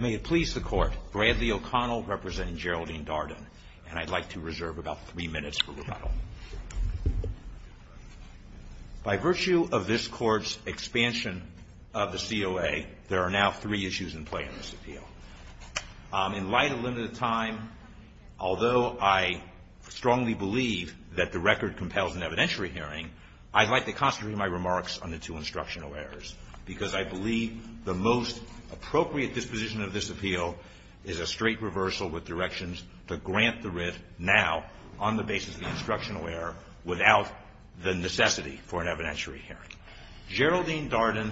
May it please the Court, Bradley O'Connell representing Geraldine Darden, and I'd like to reserve about three minutes for rebuttal. By virtue of this Court's expansion of the COA, there are now three issues in play in this appeal. In light of limited time, although I strongly believe that the record compels an evidentiary hearing, I'd like to concentrate my remarks on the two instructional errors, because I believe the most appropriate disposition of this appeal is a straight reversal with directions to grant the writ now on the basis of the instructional error without the necessity for an evidentiary hearing. Geraldine Darden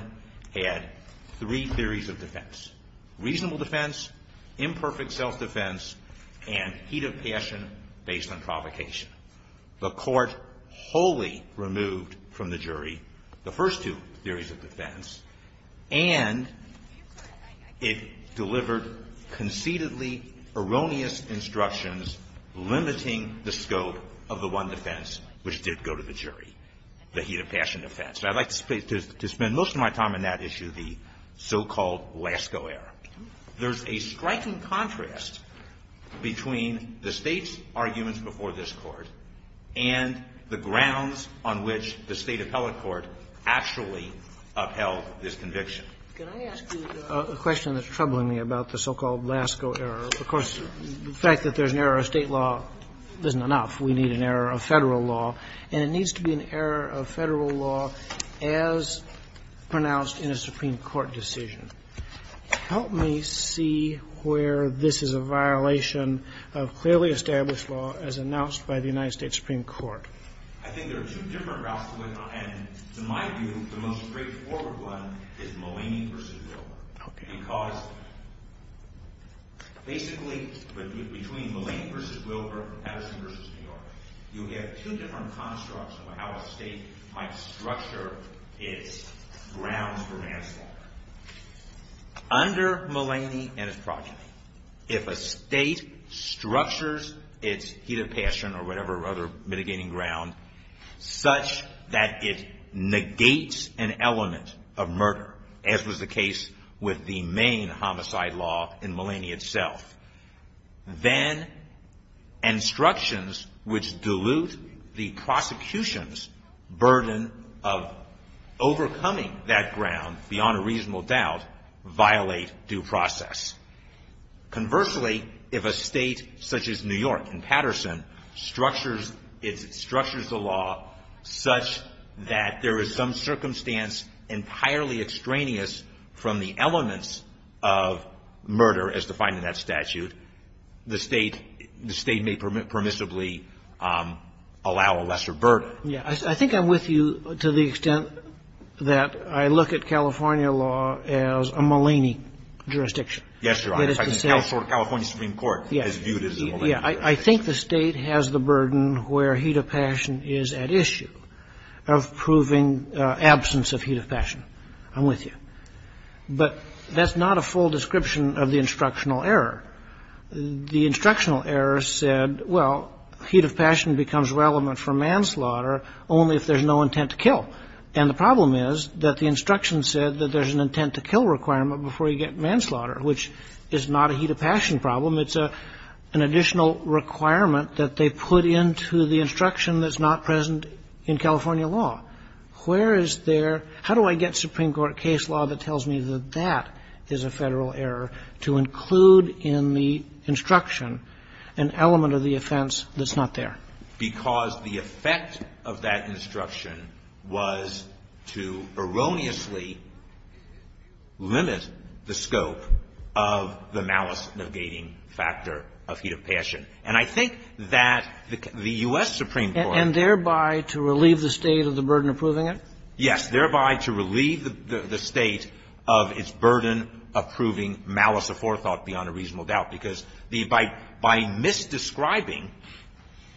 had three theories of defense, reasonable defense, imperfect self-defense, and heat of passion based on provocation. The Court wholly removed from the jury the first two theories of defense, and it delivered conceitedly erroneous instructions limiting the scope of the one defense which did go to the jury, the heat of passion defense. I'd like to spend most of my time on that issue, the so-called Lasko error. There's a striking contrast between the State's arguments before this Court and the grounds on which the State appellate court actually upheld this conviction. Can I ask you a question that's troubling me about the so-called Lasko error? Of course, the fact that there's an error of State law isn't enough. We need an error of Federal law, and it needs to be an error of Federal law as pronounced in a Supreme Court decision. Help me see where this is a violation of clearly established law as announced by the United States Supreme Court. I think there are two different routes to look on, and to my view, the most straightforward one is Mulaney v. Wilbur. Because basically, between Mulaney v. Wilbur and Patterson v. New York, you have two different constructs of how a State might structure its grounds for manslaughter. Under Mulaney and his progeny, if a State structures its heat of passion or whatever mitigating ground such that it negates an element of murder, as was the case with the main homicide law in Mulaney itself, then instructions which dilute the prosecution's burden of overcoming that ground beyond a reasonable doubt violate due process. Conversely, if a State such as New York and Patterson structures the law such that there is some circumstance entirely extraneous from the elements of murder as defined in that statute, the State may permissibly allow a lesser burden. I think I'm with you to the extent that I look at California law as a Mulaney jurisdiction. Yes, Your Honor. I think California Supreme Court has viewed it as a Mulaney jurisdiction. I think the State has the burden where heat of passion is at issue of proving absence of heat of passion. I'm with you. But that's not a full description of the instructional error. The instructional error said, well, heat of passion becomes relevant for manslaughter only if there's no intent to kill. And the problem is that the instruction said that there's an intent to kill requirement before you get manslaughter, which is not a heat of passion problem. It's an additional requirement that they put into the instruction that's not present in California law. Where is there? How do I get Supreme Court case law that tells me that that is a Federal error to include in the instruction an element of the offense that's not there? Because the effect of that instruction was to erroneously limit the scope of the malice negating factor of heat of passion. And I think that the U.S. Supreme Court — And thereby to relieve the State of the burden of proving it? Yes. Thereby to relieve the State of its burden of proving malice of forethought beyond a reasonable doubt. Because by misdescribing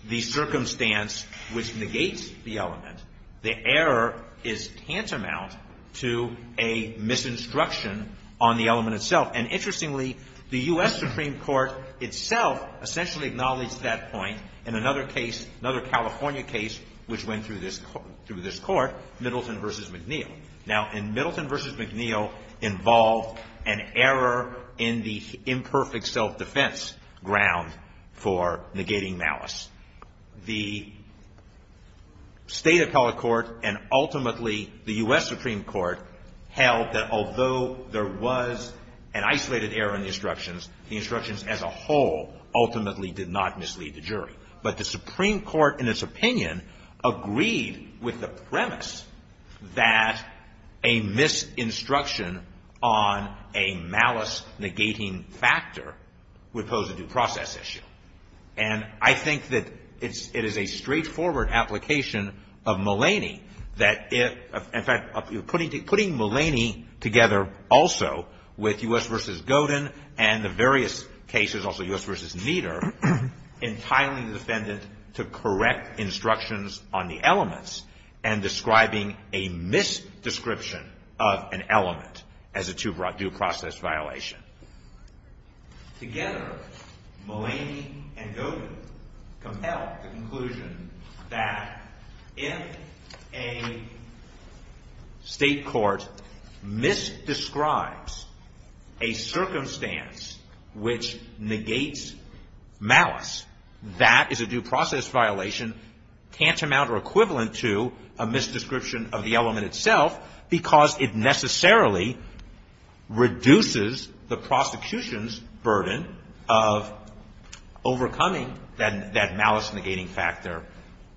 the circumstance which negates the element, the error is tantamount to a misinstruction on the element itself. And interestingly, the U.S. Supreme Court itself essentially acknowledged that point in another case, another California case, which went through this Court, Middleton v. McNeil. Now, in Middleton v. McNeil involved an error in the imperfect self-defense ground for negating malice. The State Appellate Court and ultimately the U.S. Supreme Court held that although there was an isolated error in the instructions, the instructions as a whole ultimately did not mislead the jury. But the Supreme Court, in its opinion, agreed with the premise that a misinstruction on a malice-negating factor would pose a due process issue. And I think that it is a straightforward application of Mulaney that if — in fact, putting Mulaney together also with U.S. v. to correct instructions on the elements and describing a misdescription of an element as a due process violation. Together, Mulaney and Godin compelled the conclusion that if a state court misdescribes a circumstance which negates malice, that is a due process violation tantamount or equivalent to a misdescription of the element itself because it necessarily reduces the prosecution's burden of overcoming that malice-negating factor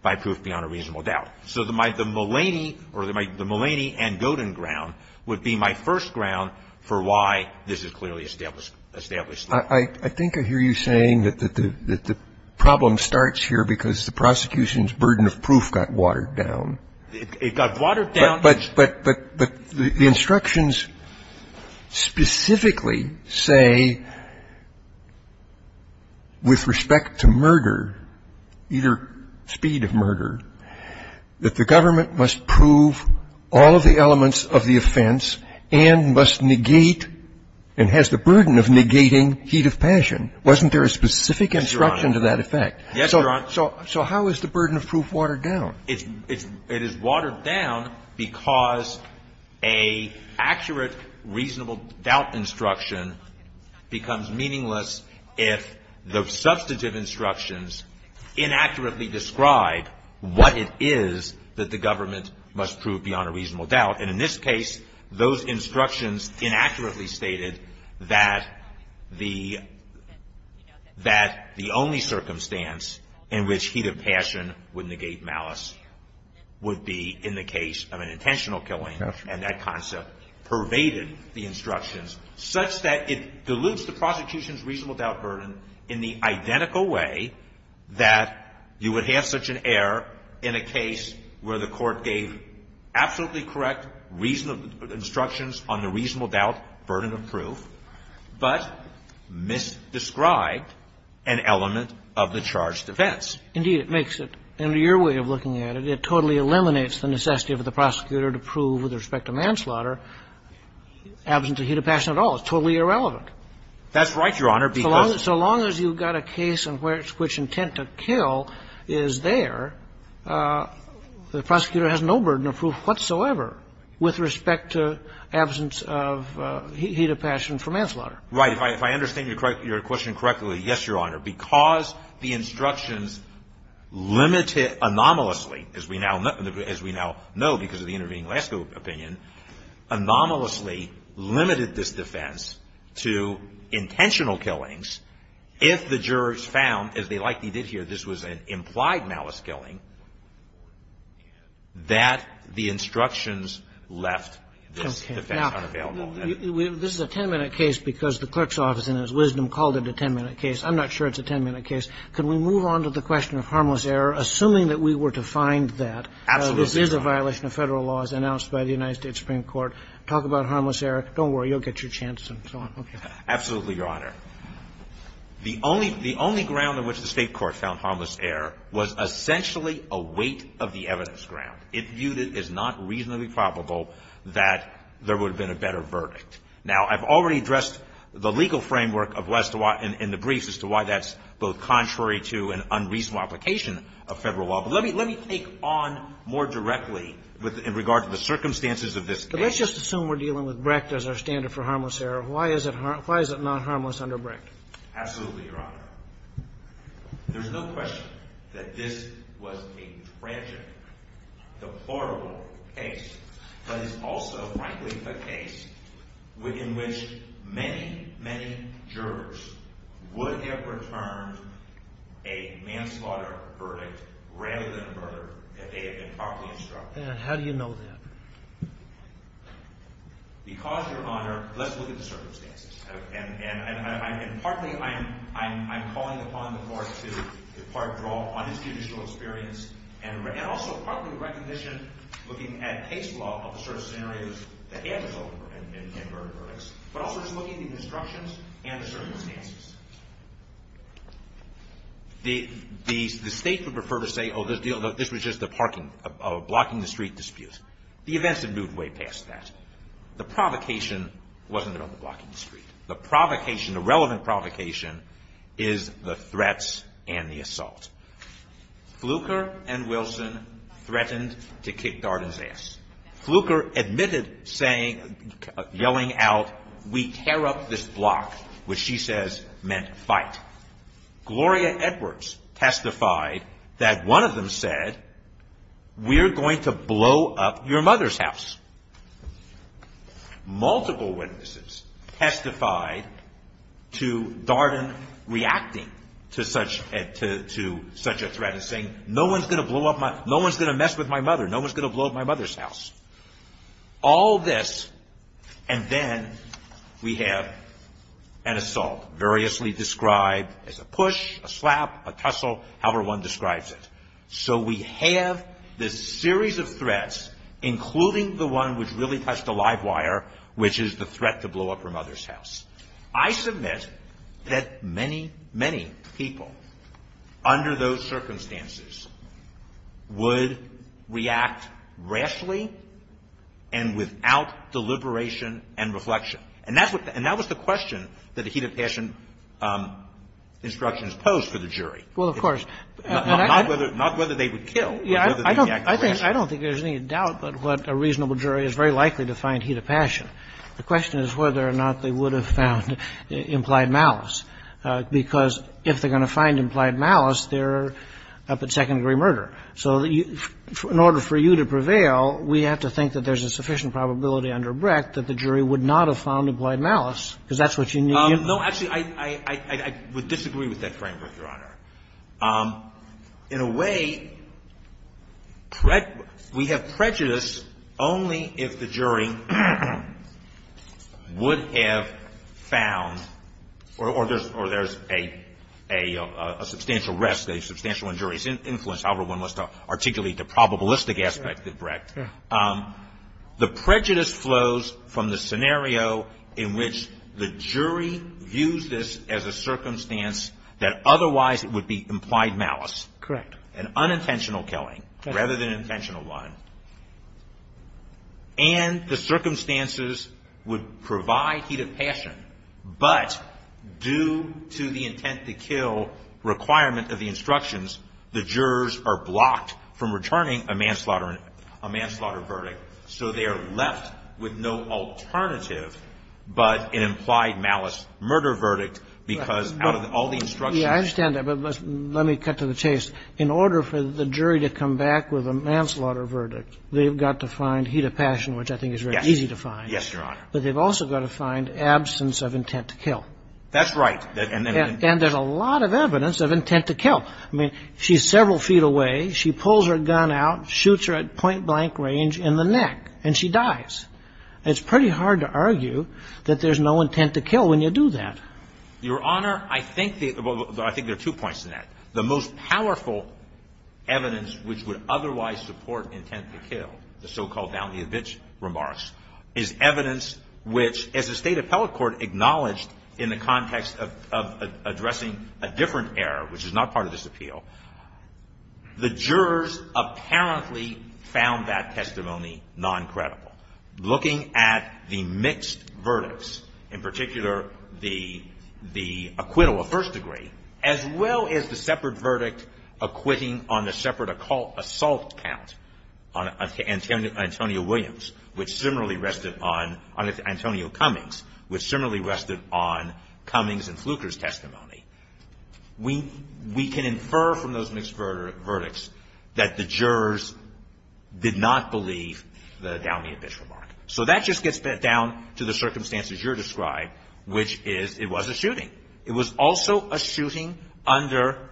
by proof beyond a reasonable doubt. So the Mulaney or the Mulaney and Godin ground would be my first ground for why this is clearly established law. I think I hear you saying that the problem starts here because the prosecution's burden of proof got watered down. It got watered down. But the instructions specifically say with respect to murder, either speed of murder, that the government must prove all of the elements of the offense and must negate and has the burden of negating heat of passion. Wasn't there a specific instruction to that effect? Yes, Your Honor. So how is the burden of proof watered down? It is watered down because an accurate, reasonable doubt instruction becomes meaningless if the substantive instructions inaccurately describe what it is that the government must prove beyond a reasonable doubt. And in this case, those instructions inaccurately stated that the only circumstance in which heat of passion would negate malice would be in the case of an intentional killing. And that concept pervaded the instructions such that it dilutes the prosecution's reasonable doubt burden in the identical way that you would have such an error in a case where the court gave absolutely correct, reasonable instructions on the reasonable doubt burden of proof but misdescribed an element of the charge defense. Indeed, it makes it. Under your way of looking at it, it totally eliminates the necessity of the prosecutor to prove, with respect to manslaughter, absence of heat of passion at all. It's totally irrelevant. That's right, Your Honor. So long as you've got a case in which intent to kill is there, the prosecutor has no burden of proof whatsoever with respect to absence of heat of passion for manslaughter. Right. If I understand your question correctly, yes, Your Honor. Because the instructions limit it anomalously, as we now know because of the intervening last opinion, anomalously limited this defense to intentional killings if the jurors found, as they likely did here, this was an implied malice killing, that the instructions left this defense unavailable. Now, this is a 10-minute case because the clerk's office, in its wisdom, called it a 10-minute case. I'm not sure it's a 10-minute case. Can we move on to the question of harmless error, assuming that we were to find that this is a violation of federal laws announced by the United States Supreme Court? Talk about harmless error. Don't worry. You'll get your chance and so on. Okay. Absolutely, Your Honor. The only ground on which the state court found harmless error was essentially a weight of the evidence ground. It viewed it as not reasonably probable that there would have been a better verdict. Now, I've already addressed the legal framework in the briefs as to why that's both contrary to an unreasonable application of federal law. Let me take on more directly in regard to the circumstances of this case. But let's just assume we're dealing with Brecht as our standard for harmless error. Why is it not harmless under Brecht? Absolutely, Your Honor. There's no question that this was a tragic, deplorable case. But it's also, frankly, a case in which many, many jurors would have returned a manslaughter verdict rather than a murder if they had been properly instructed. And how do you know that? Because, Your Honor, let's look at the circumstances. And partly, I'm calling upon the court to, in part, draw on its judicial experience and also, partly, recognition looking at case law of the sort of scenarios that the state would prefer to say, oh, this was just a blocking the street dispute. The events had moved way past that. The provocation wasn't about the blocking the street. The provocation, the relevant provocation, is the threats and the assault. Fluker and Wilson threatened to kick Darden's ass. Fluker admitted yelling out, we tear up this block, which she says meant fight. Gloria Edwards testified that one of them said, we're going to blow up your mother's house. Multiple witnesses testified to Darden reacting to such a threat and saying, no one's going to mess with my mother. No one's going to blow up my mother's house. All this, and then we have an assault, variously described as a push, a slap, a tussle, however one describes it. So we have this series of threats, including the one which really touched the live wire, which is the threat to blow up her mother's house. I submit that many, many people, under those circumstances, would react rashly and without deliberation and reflection. And that's what the – and that was the question that the heat of passion instructions posed for the jury. Well, of course. Not whether they would kill, but whether they would react rashly. I don't think there's any doubt that what a reasonable jury is very likely to find heat of passion. The question is whether or not they would have found implied malice, because if they're implied malice, they're up at second-degree murder. So in order for you to prevail, we have to think that there's a sufficient probability under Brecht that the jury would not have found implied malice, because that's what you need. No. Actually, I would disagree with that framework, Your Honor. In a way, we have prejudice only if the jury would have found, or there's a substantial risk that a substantial injury has influenced however one wants to articulate the probabilistic aspect of Brecht. The prejudice flows from the scenario in which the jury views this as a circumstance that otherwise it would be implied malice. Correct. An unintentional killing rather than an intentional one. And the circumstances would provide heat of passion, but due to the intent to kill requirement of the instructions, the jurors are blocked from returning a manslaughter verdict. So they are left with no alternative but an implied malice murder verdict, because out of all the instructions. Yeah, I understand that, but let me cut to the chase. In order for the jury to come back with a manslaughter verdict, they've got to find heat of passion, which I think is very easy to find. Yes, Your Honor. But they've also got to find absence of intent to kill. That's right. And there's a lot of evidence of intent to kill. I mean, she's several feet away. She pulls her gun out, shoots her at point blank range in the neck, and she dies. It's pretty hard to argue that there's no intent to kill when you do that. Your Honor, I think there are two points in that. The most powerful evidence which would otherwise support intent to kill, the so-called remarks, is evidence which, as the State Appellate Court acknowledged in the context of addressing a different error, which is not part of this appeal, the jurors apparently found that testimony non-credible. Looking at the mixed verdicts, in particular the acquittal of first degree, as well as the separate verdict acquitting on the separate assault count on Antonio Williams, which similarly rested on Antonio Cummings, which similarly rested on Cummings and Fluker's testimony, we can infer from those mixed verdicts that the jurors did not believe the Downey and Bishop remark. So that just gets down to the circumstances you're describing, which is it was a shooting. It was also a shooting under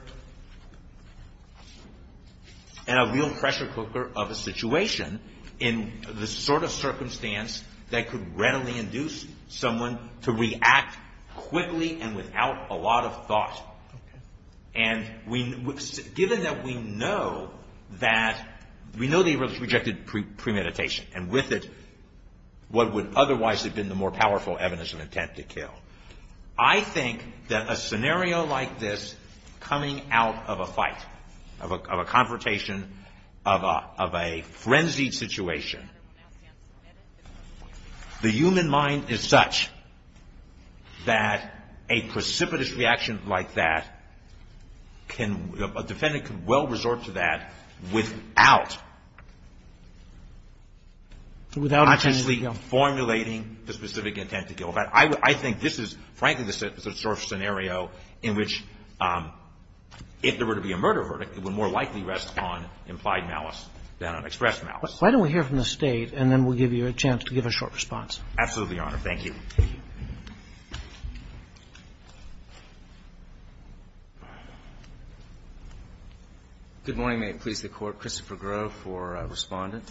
a real pressure cooker of a situation in the sort of circumstance that could readily induce someone to react quickly and without a lot of thought. And given that we know that, we know they rejected premeditation, and with it what would otherwise have been the more powerful evidence of intent to kill. I think that a scenario like this coming out of a fight, of a confrontation, of a frenzied situation, the human mind is such that a precipitous reaction like that can – a defendant can well resort to that without consciously formulating the specific intent to kill. I think this is, frankly, the sort of scenario in which if there were to be a murder verdict, it would more likely rest on implied malice than on expressed malice. Roberts. Why don't we hear from the State and then we'll give you a chance to give a short response. Absolutely, Your Honor. Thank you. Good morning. May it please the Court. Christopher Grove for Respondent.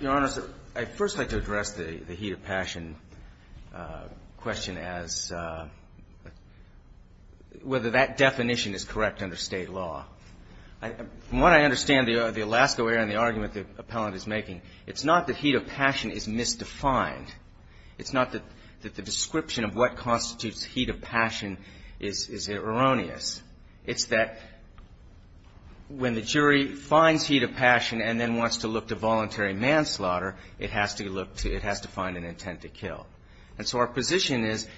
Your Honor, I'd first like to address the heat of passion question as whether that definition is correct under State law. From what I understand the Alaska lawyer and the argument the appellant is making, it's not that heat of passion is misdefined. It's not that the description of what constitutes heat of passion is erroneous. It's that when the jury finds heat of passion and then wants to look to voluntary manslaughter, it has to look to – it has to find an intent to kill. And so our position is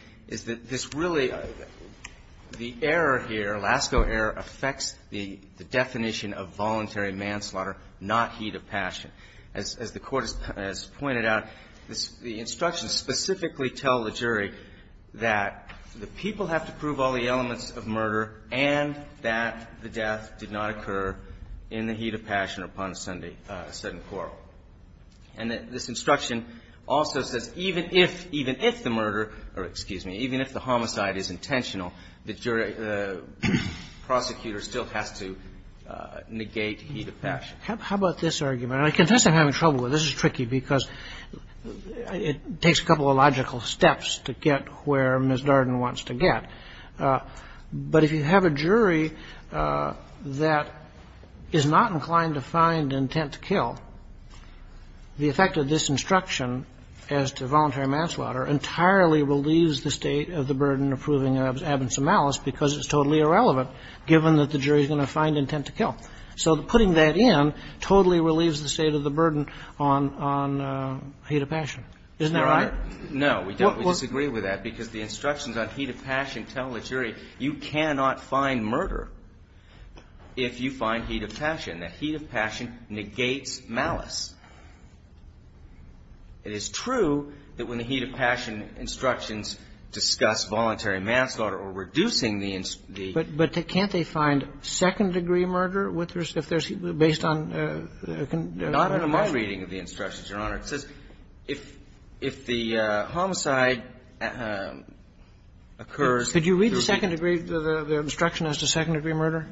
that this really – the error here, Lasko error, affects the definition of voluntary manslaughter, not heat of passion. As the Court has pointed out, the instructions specifically tell the jury that the people have to prove all the elements of murder and that the death did not occur in the heat of passion or upon a sudden quarrel. And this instruction also says even if – even if the murder – or excuse me, even if the homicide is intentional, the jury – the prosecutor still has to negate heat of passion. How about this argument? And I confess I'm having trouble with it. This is tricky because it takes a couple of logical steps to get where Ms. Darden wants to get. But if you have a jury that is not inclined to find intent to kill, the effect of this instruction as to voluntary manslaughter entirely relieves the state of the burden of proving an absence of malice because it's totally irrelevant, given that the jury is going to find intent to kill. So putting that in totally relieves the state of the burden on – on heat of passion. Isn't that right? Your Honor, no, we don't disagree with that because the instructions on heat of passion tell the jury you cannot find murder if you find heat of passion. The heat of passion negates malice. It is true that when the heat of passion instructions discuss voluntary manslaughter or reducing the – But can't they find second-degree murder if there's – based on – Not in my reading of the instructions, Your Honor. It says if – if the homicide occurs through heat of passion. Could you read the second-degree – the instruction as to second-degree murder?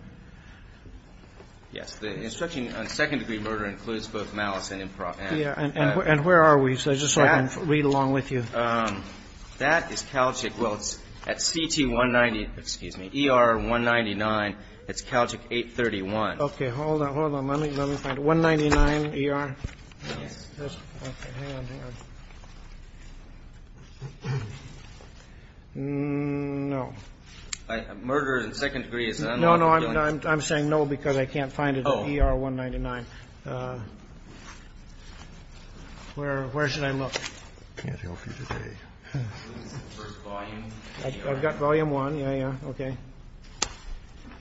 Yes. The instruction on second-degree murder includes both malice and improper act. And where are we? So just so I can read along with you. That is Calgic. Well, it's at CT-190 – excuse me, ER-199. It's Calgic 831. Okay. Hold on. Hold on. Let me find it. 199 ER. Hang on, hang on. No. Murder in second-degree is – No, no, I'm saying no because I can't find it at ER-199. Where should I look? I can't help you today. I've got volume one. Yeah, yeah. Okay.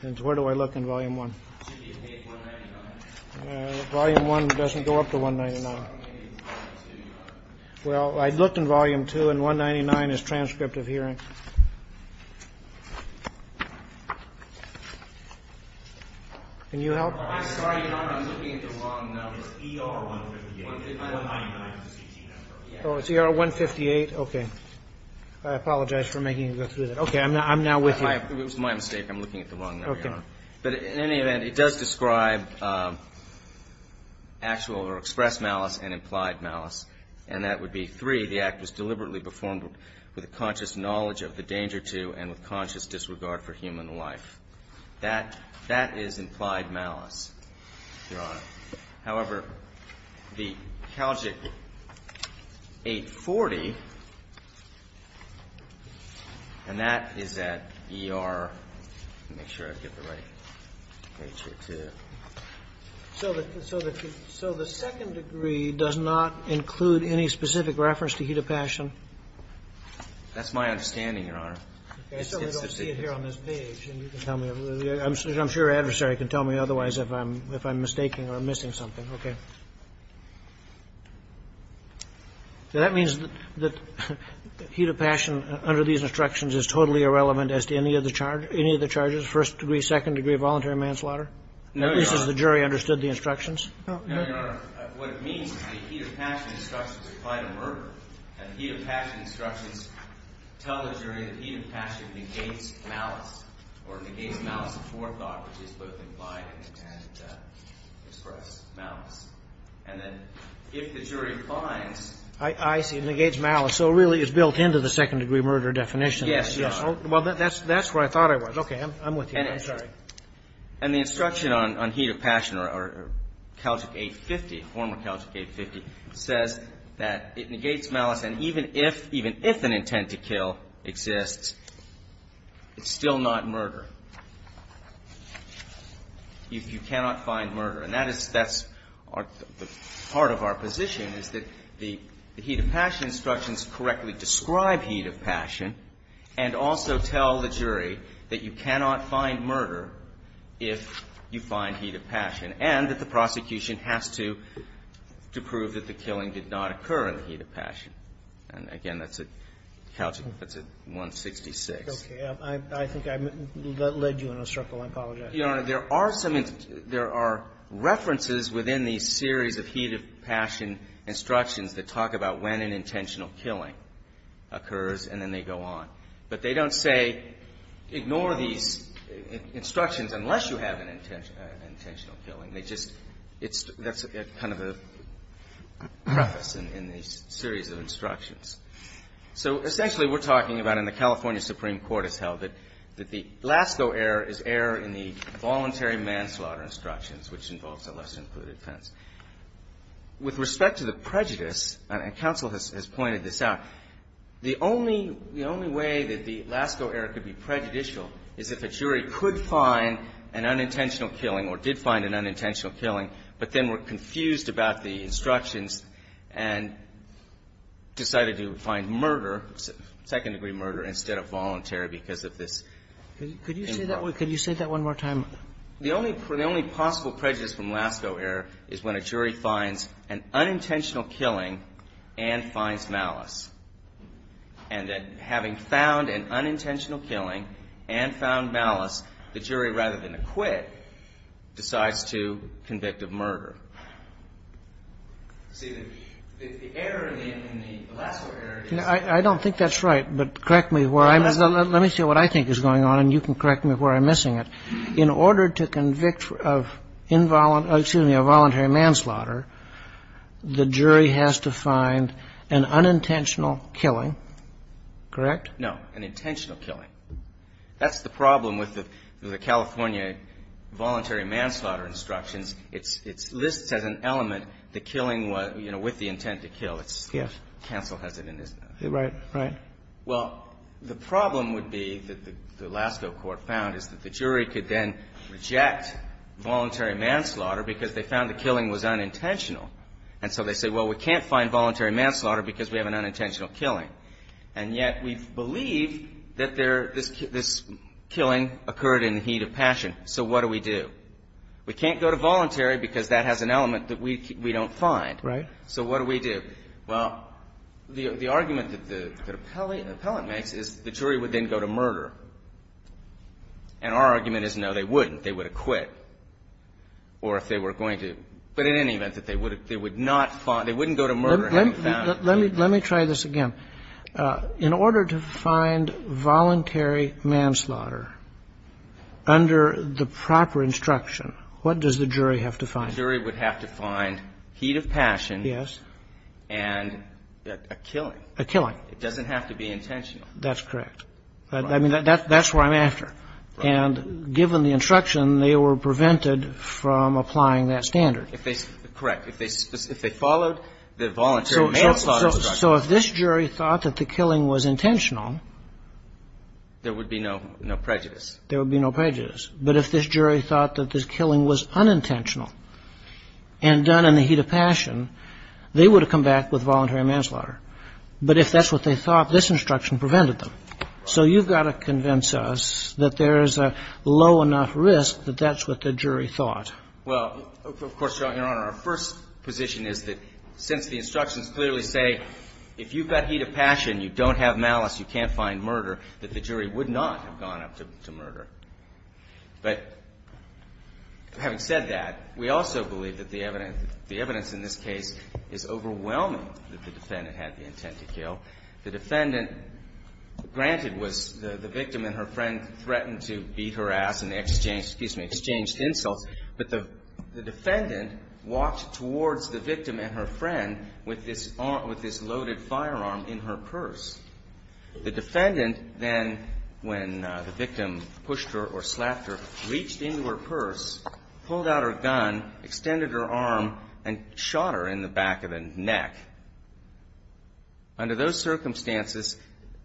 And where do I look in volume one? It should be at page 199. No, volume one doesn't go up to 199. Well, I looked in volume two, and 199 is transcript of hearing. Can you help? I'm sorry, Your Honor. I'm looking at the wrong number. It's ER-158. It's ER-199. Oh, it's ER-158. Okay. I apologize for making you go through that. I'm now with you. It was my mistake. I'm looking at the wrong number, Your Honor. Okay. But in any event, it does describe actual or expressed malice and implied malice, and that would be three. The act was deliberately performed with a conscious knowledge of the danger to and with conscious disregard for human life. So the second degree does not include any specific reference to heat of passion? That's my understanding, Your Honor. I certainly don't see it here on this page, and you can tell me. I'm sure your adversary can tell me otherwise if I'm mistaking or missing something. Okay. So that means that heat of passion under these instructions is totally irrelevant as to any of the charges. First degree, second degree, voluntary manslaughter? No, Your Honor. At least the jury understood the instructions. No. No, Your Honor. What it means is the heat of passion instructions apply to murder, and heat of passion instructions tell the jury that heat of passion negates malice or negates malice of forethought, which is both implied and expressed malice. And then if the jury finds – I see. Negates malice. So it really is built into the second-degree murder definition. Yes, Your Honor. Well, that's where I thought I was. Okay. I'm with you. I'm sorry. And the instruction on heat of passion or Calgic 850, former Calgic 850, says that it negates malice, and even if an intent to kill exists, it's still not murder. You cannot find murder. And that is – that's part of our position, is that the heat of passion instructions correctly describe heat of passion and also tell the jury that you cannot find murder if you find heat of passion, and that the prosecution has to prove that the killing did not occur in the heat of passion. And, again, that's at Calgic – that's at 166. Okay. I think I led you in a circle. I apologize. But, Your Honor, there are some – there are references within these series of heat of passion instructions that talk about when an intentional killing occurs, and then they go on. But they don't say ignore these instructions unless you have an intentional killing. They just – it's – that's kind of a preface in these series of instructions. So, essentially, we're talking about, and the California Supreme Court has held it, that the LASCO error is error in the voluntary manslaughter instructions, which involves a less-included offense. With respect to the prejudice, and counsel has pointed this out, the only – the only way that the LASCO error could be prejudicial is if a jury could find an unintentional killing, but then were confused about the instructions and decided to find murder, second-degree murder, instead of voluntary, because of this. Could you say that one more time? The only possible prejudice from LASCO error is when a jury finds an unintentional killing and finds malice. And that having found an unintentional killing and found malice, the jury, rather than acquit, decides to convict of murder. See, the error in the LASCO error is – I don't think that's right, but correct me where I'm – let me see what I think is going on, and you can correct me where I'm missing it. In order to convict of involuntary – excuse me, a voluntary manslaughter, the jury has to find an unintentional killing, correct? No, an intentional killing. That's the problem with the California voluntary manslaughter instructions. It's – this says an element, the killing was, you know, with the intent to kill. It's – counsel has it in his notes. Right, right. Well, the problem would be that the LASCO court found is that the jury could then reject voluntary manslaughter because they found the killing was unintentional. And so they say, well, we can't find voluntary manslaughter because we have an unintentional killing. And yet we believe that there – this killing occurred in the heat of passion. So what do we do? We can't go to voluntary because that has an element that we don't find. Right. So what do we do? Well, the argument that the appellate makes is the jury would then go to murder. And our argument is, no, they wouldn't. They would have quit. Or if they were going to – but in any event, that they would not – they wouldn't go to murder. Let me try this again. In order to find voluntary manslaughter under the proper instruction, what does the jury have to find? The jury would have to find heat of passion. Yes. And a killing. A killing. It doesn't have to be intentional. That's correct. I mean, that's what I'm after. And given the instruction, they were prevented from applying that standard. If they – correct. If they followed the voluntary manslaughter instruction. So if this jury thought that the killing was intentional. There would be no prejudice. There would be no prejudice. But if this jury thought that this killing was unintentional and done in the heat of passion, they would have come back with voluntary manslaughter. But if that's what they thought, this instruction prevented them. So you've got to convince us that there is a low enough risk that that's what the jury thought. Well, of course, Your Honor, our first position is that since the instructions clearly say, if you've got heat of passion, you don't have malice, you can't find murder, that the jury would not have gone up to murder. But having said that, we also believe that the evidence in this case is overwhelming that the defendant had the intent to kill. The defendant, granted, was – the victim and her friend threatened to beat her ass and they exchanged – excuse me – exchanged insults. But the defendant walked towards the victim and her friend with this loaded firearm in her purse. The defendant then, when the victim pushed her or slapped her, reached into her purse, pulled out her gun, extended her arm, and shot her in the back of the neck. Under those circumstances,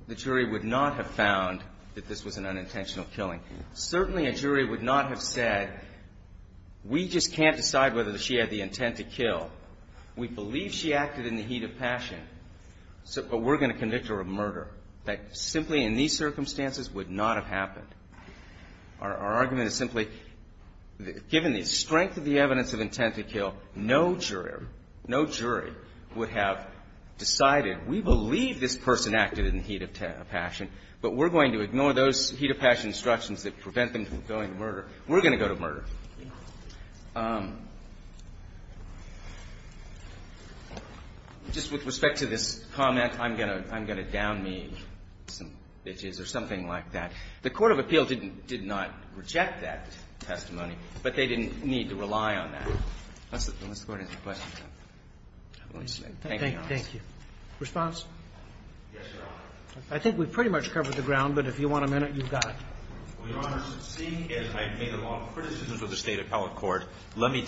the jury would not have found that this was an unintentional killing. Certainly, a jury would not have said, we just can't decide whether she had the intent to kill. We believe she acted in the heat of passion. But we're going to convict her of murder. That simply, in these circumstances, would not have happened. Our argument is simply, given the strength of the evidence of intent to kill, no jury would have decided, we believe this person acted in the heat of passion, but we're going to ignore those heat of passion instructions that prevent them from going to murder. We're going to go to murder. Thank you. Just with respect to this comment, I'm going to down me some bitches or something like that. The court of appeal did not reject that testimony, but they didn't need to rely on that. Unless the Court has a question. Thank you, Your Honor. Thank you. Response? Yes, Your Honor. I think we've pretty much covered the ground, but if you want a minute, you've got it. Well, Your Honor, seeing as I've made a lot of criticisms of the State Appellate Court, let me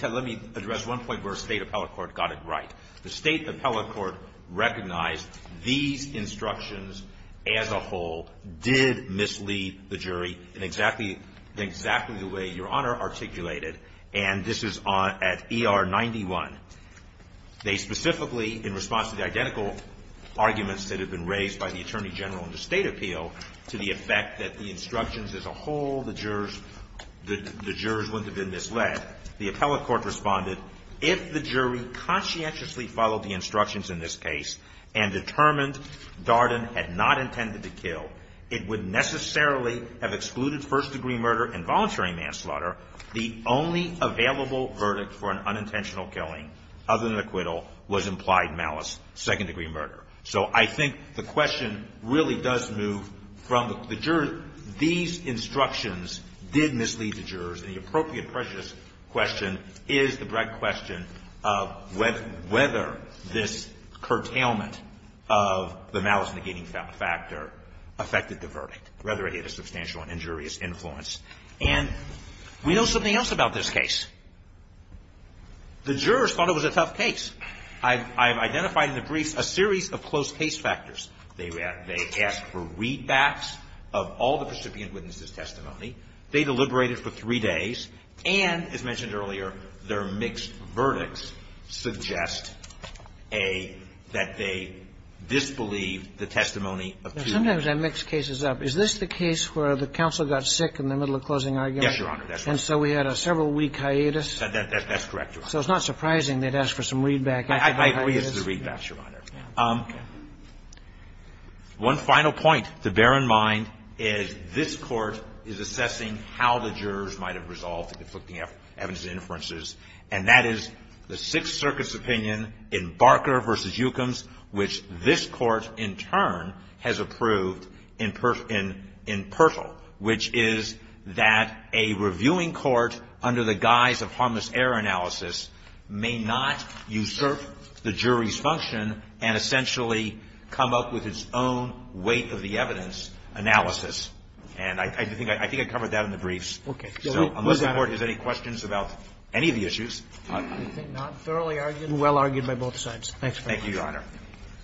address one point where the State Appellate Court got it right. The State Appellate Court recognized these instructions as a whole did mislead the jury in exactly the way Your Honor articulated, and this is at ER 91. They specifically, in response to the identical arguments that have been raised by the Attorney as a whole, the jurors wouldn't have been misled. The Appellate Court responded, if the jury conscientiously followed the instructions in this case and determined Darden had not intended to kill, it would necessarily have excluded first degree murder and voluntary manslaughter. The only available verdict for an unintentional killing, other than acquittal, was implied malice, second degree murder. So I think the question really does move from these instructions did mislead the jurors, and the appropriate prejudice question is the direct question of whether this curtailment of the malice negating factor affected the verdict, whether it had a substantial and injurious influence. And we know something else about this case. The jurors thought it was a tough case. I've identified in the briefs a series of close case factors. They asked for readbacks of all the precipient witnesses' testimony. They deliberated for three days. And, as mentioned earlier, their mixed verdicts suggest that they disbelieve the testimony of two jurors. Sometimes I mix cases up. Is this the case where the counsel got sick in the middle of closing argument? Yes, Your Honor, that's right. That's correct, Your Honor. So it's not surprising they'd ask for some readback. I agree it's the readback, Your Honor. One final point to bear in mind is this Court is assessing how the jurors might have resolved the conflicting evidence inferences, and that is the Sixth Circuit's opinion in Barker v. Eukums, which this Court, in turn, has approved in Pirtle, which is that a reviewing court under the guise of harmless error analysis may not usurp the jury's function and essentially come up with its own weight of the evidence analysis. And I think I covered that in the briefs. Okay. So unless the Court has any questions about any of the issues. I think not. Thoroughly argued? Well argued by both sides. Thank you, Your Honor.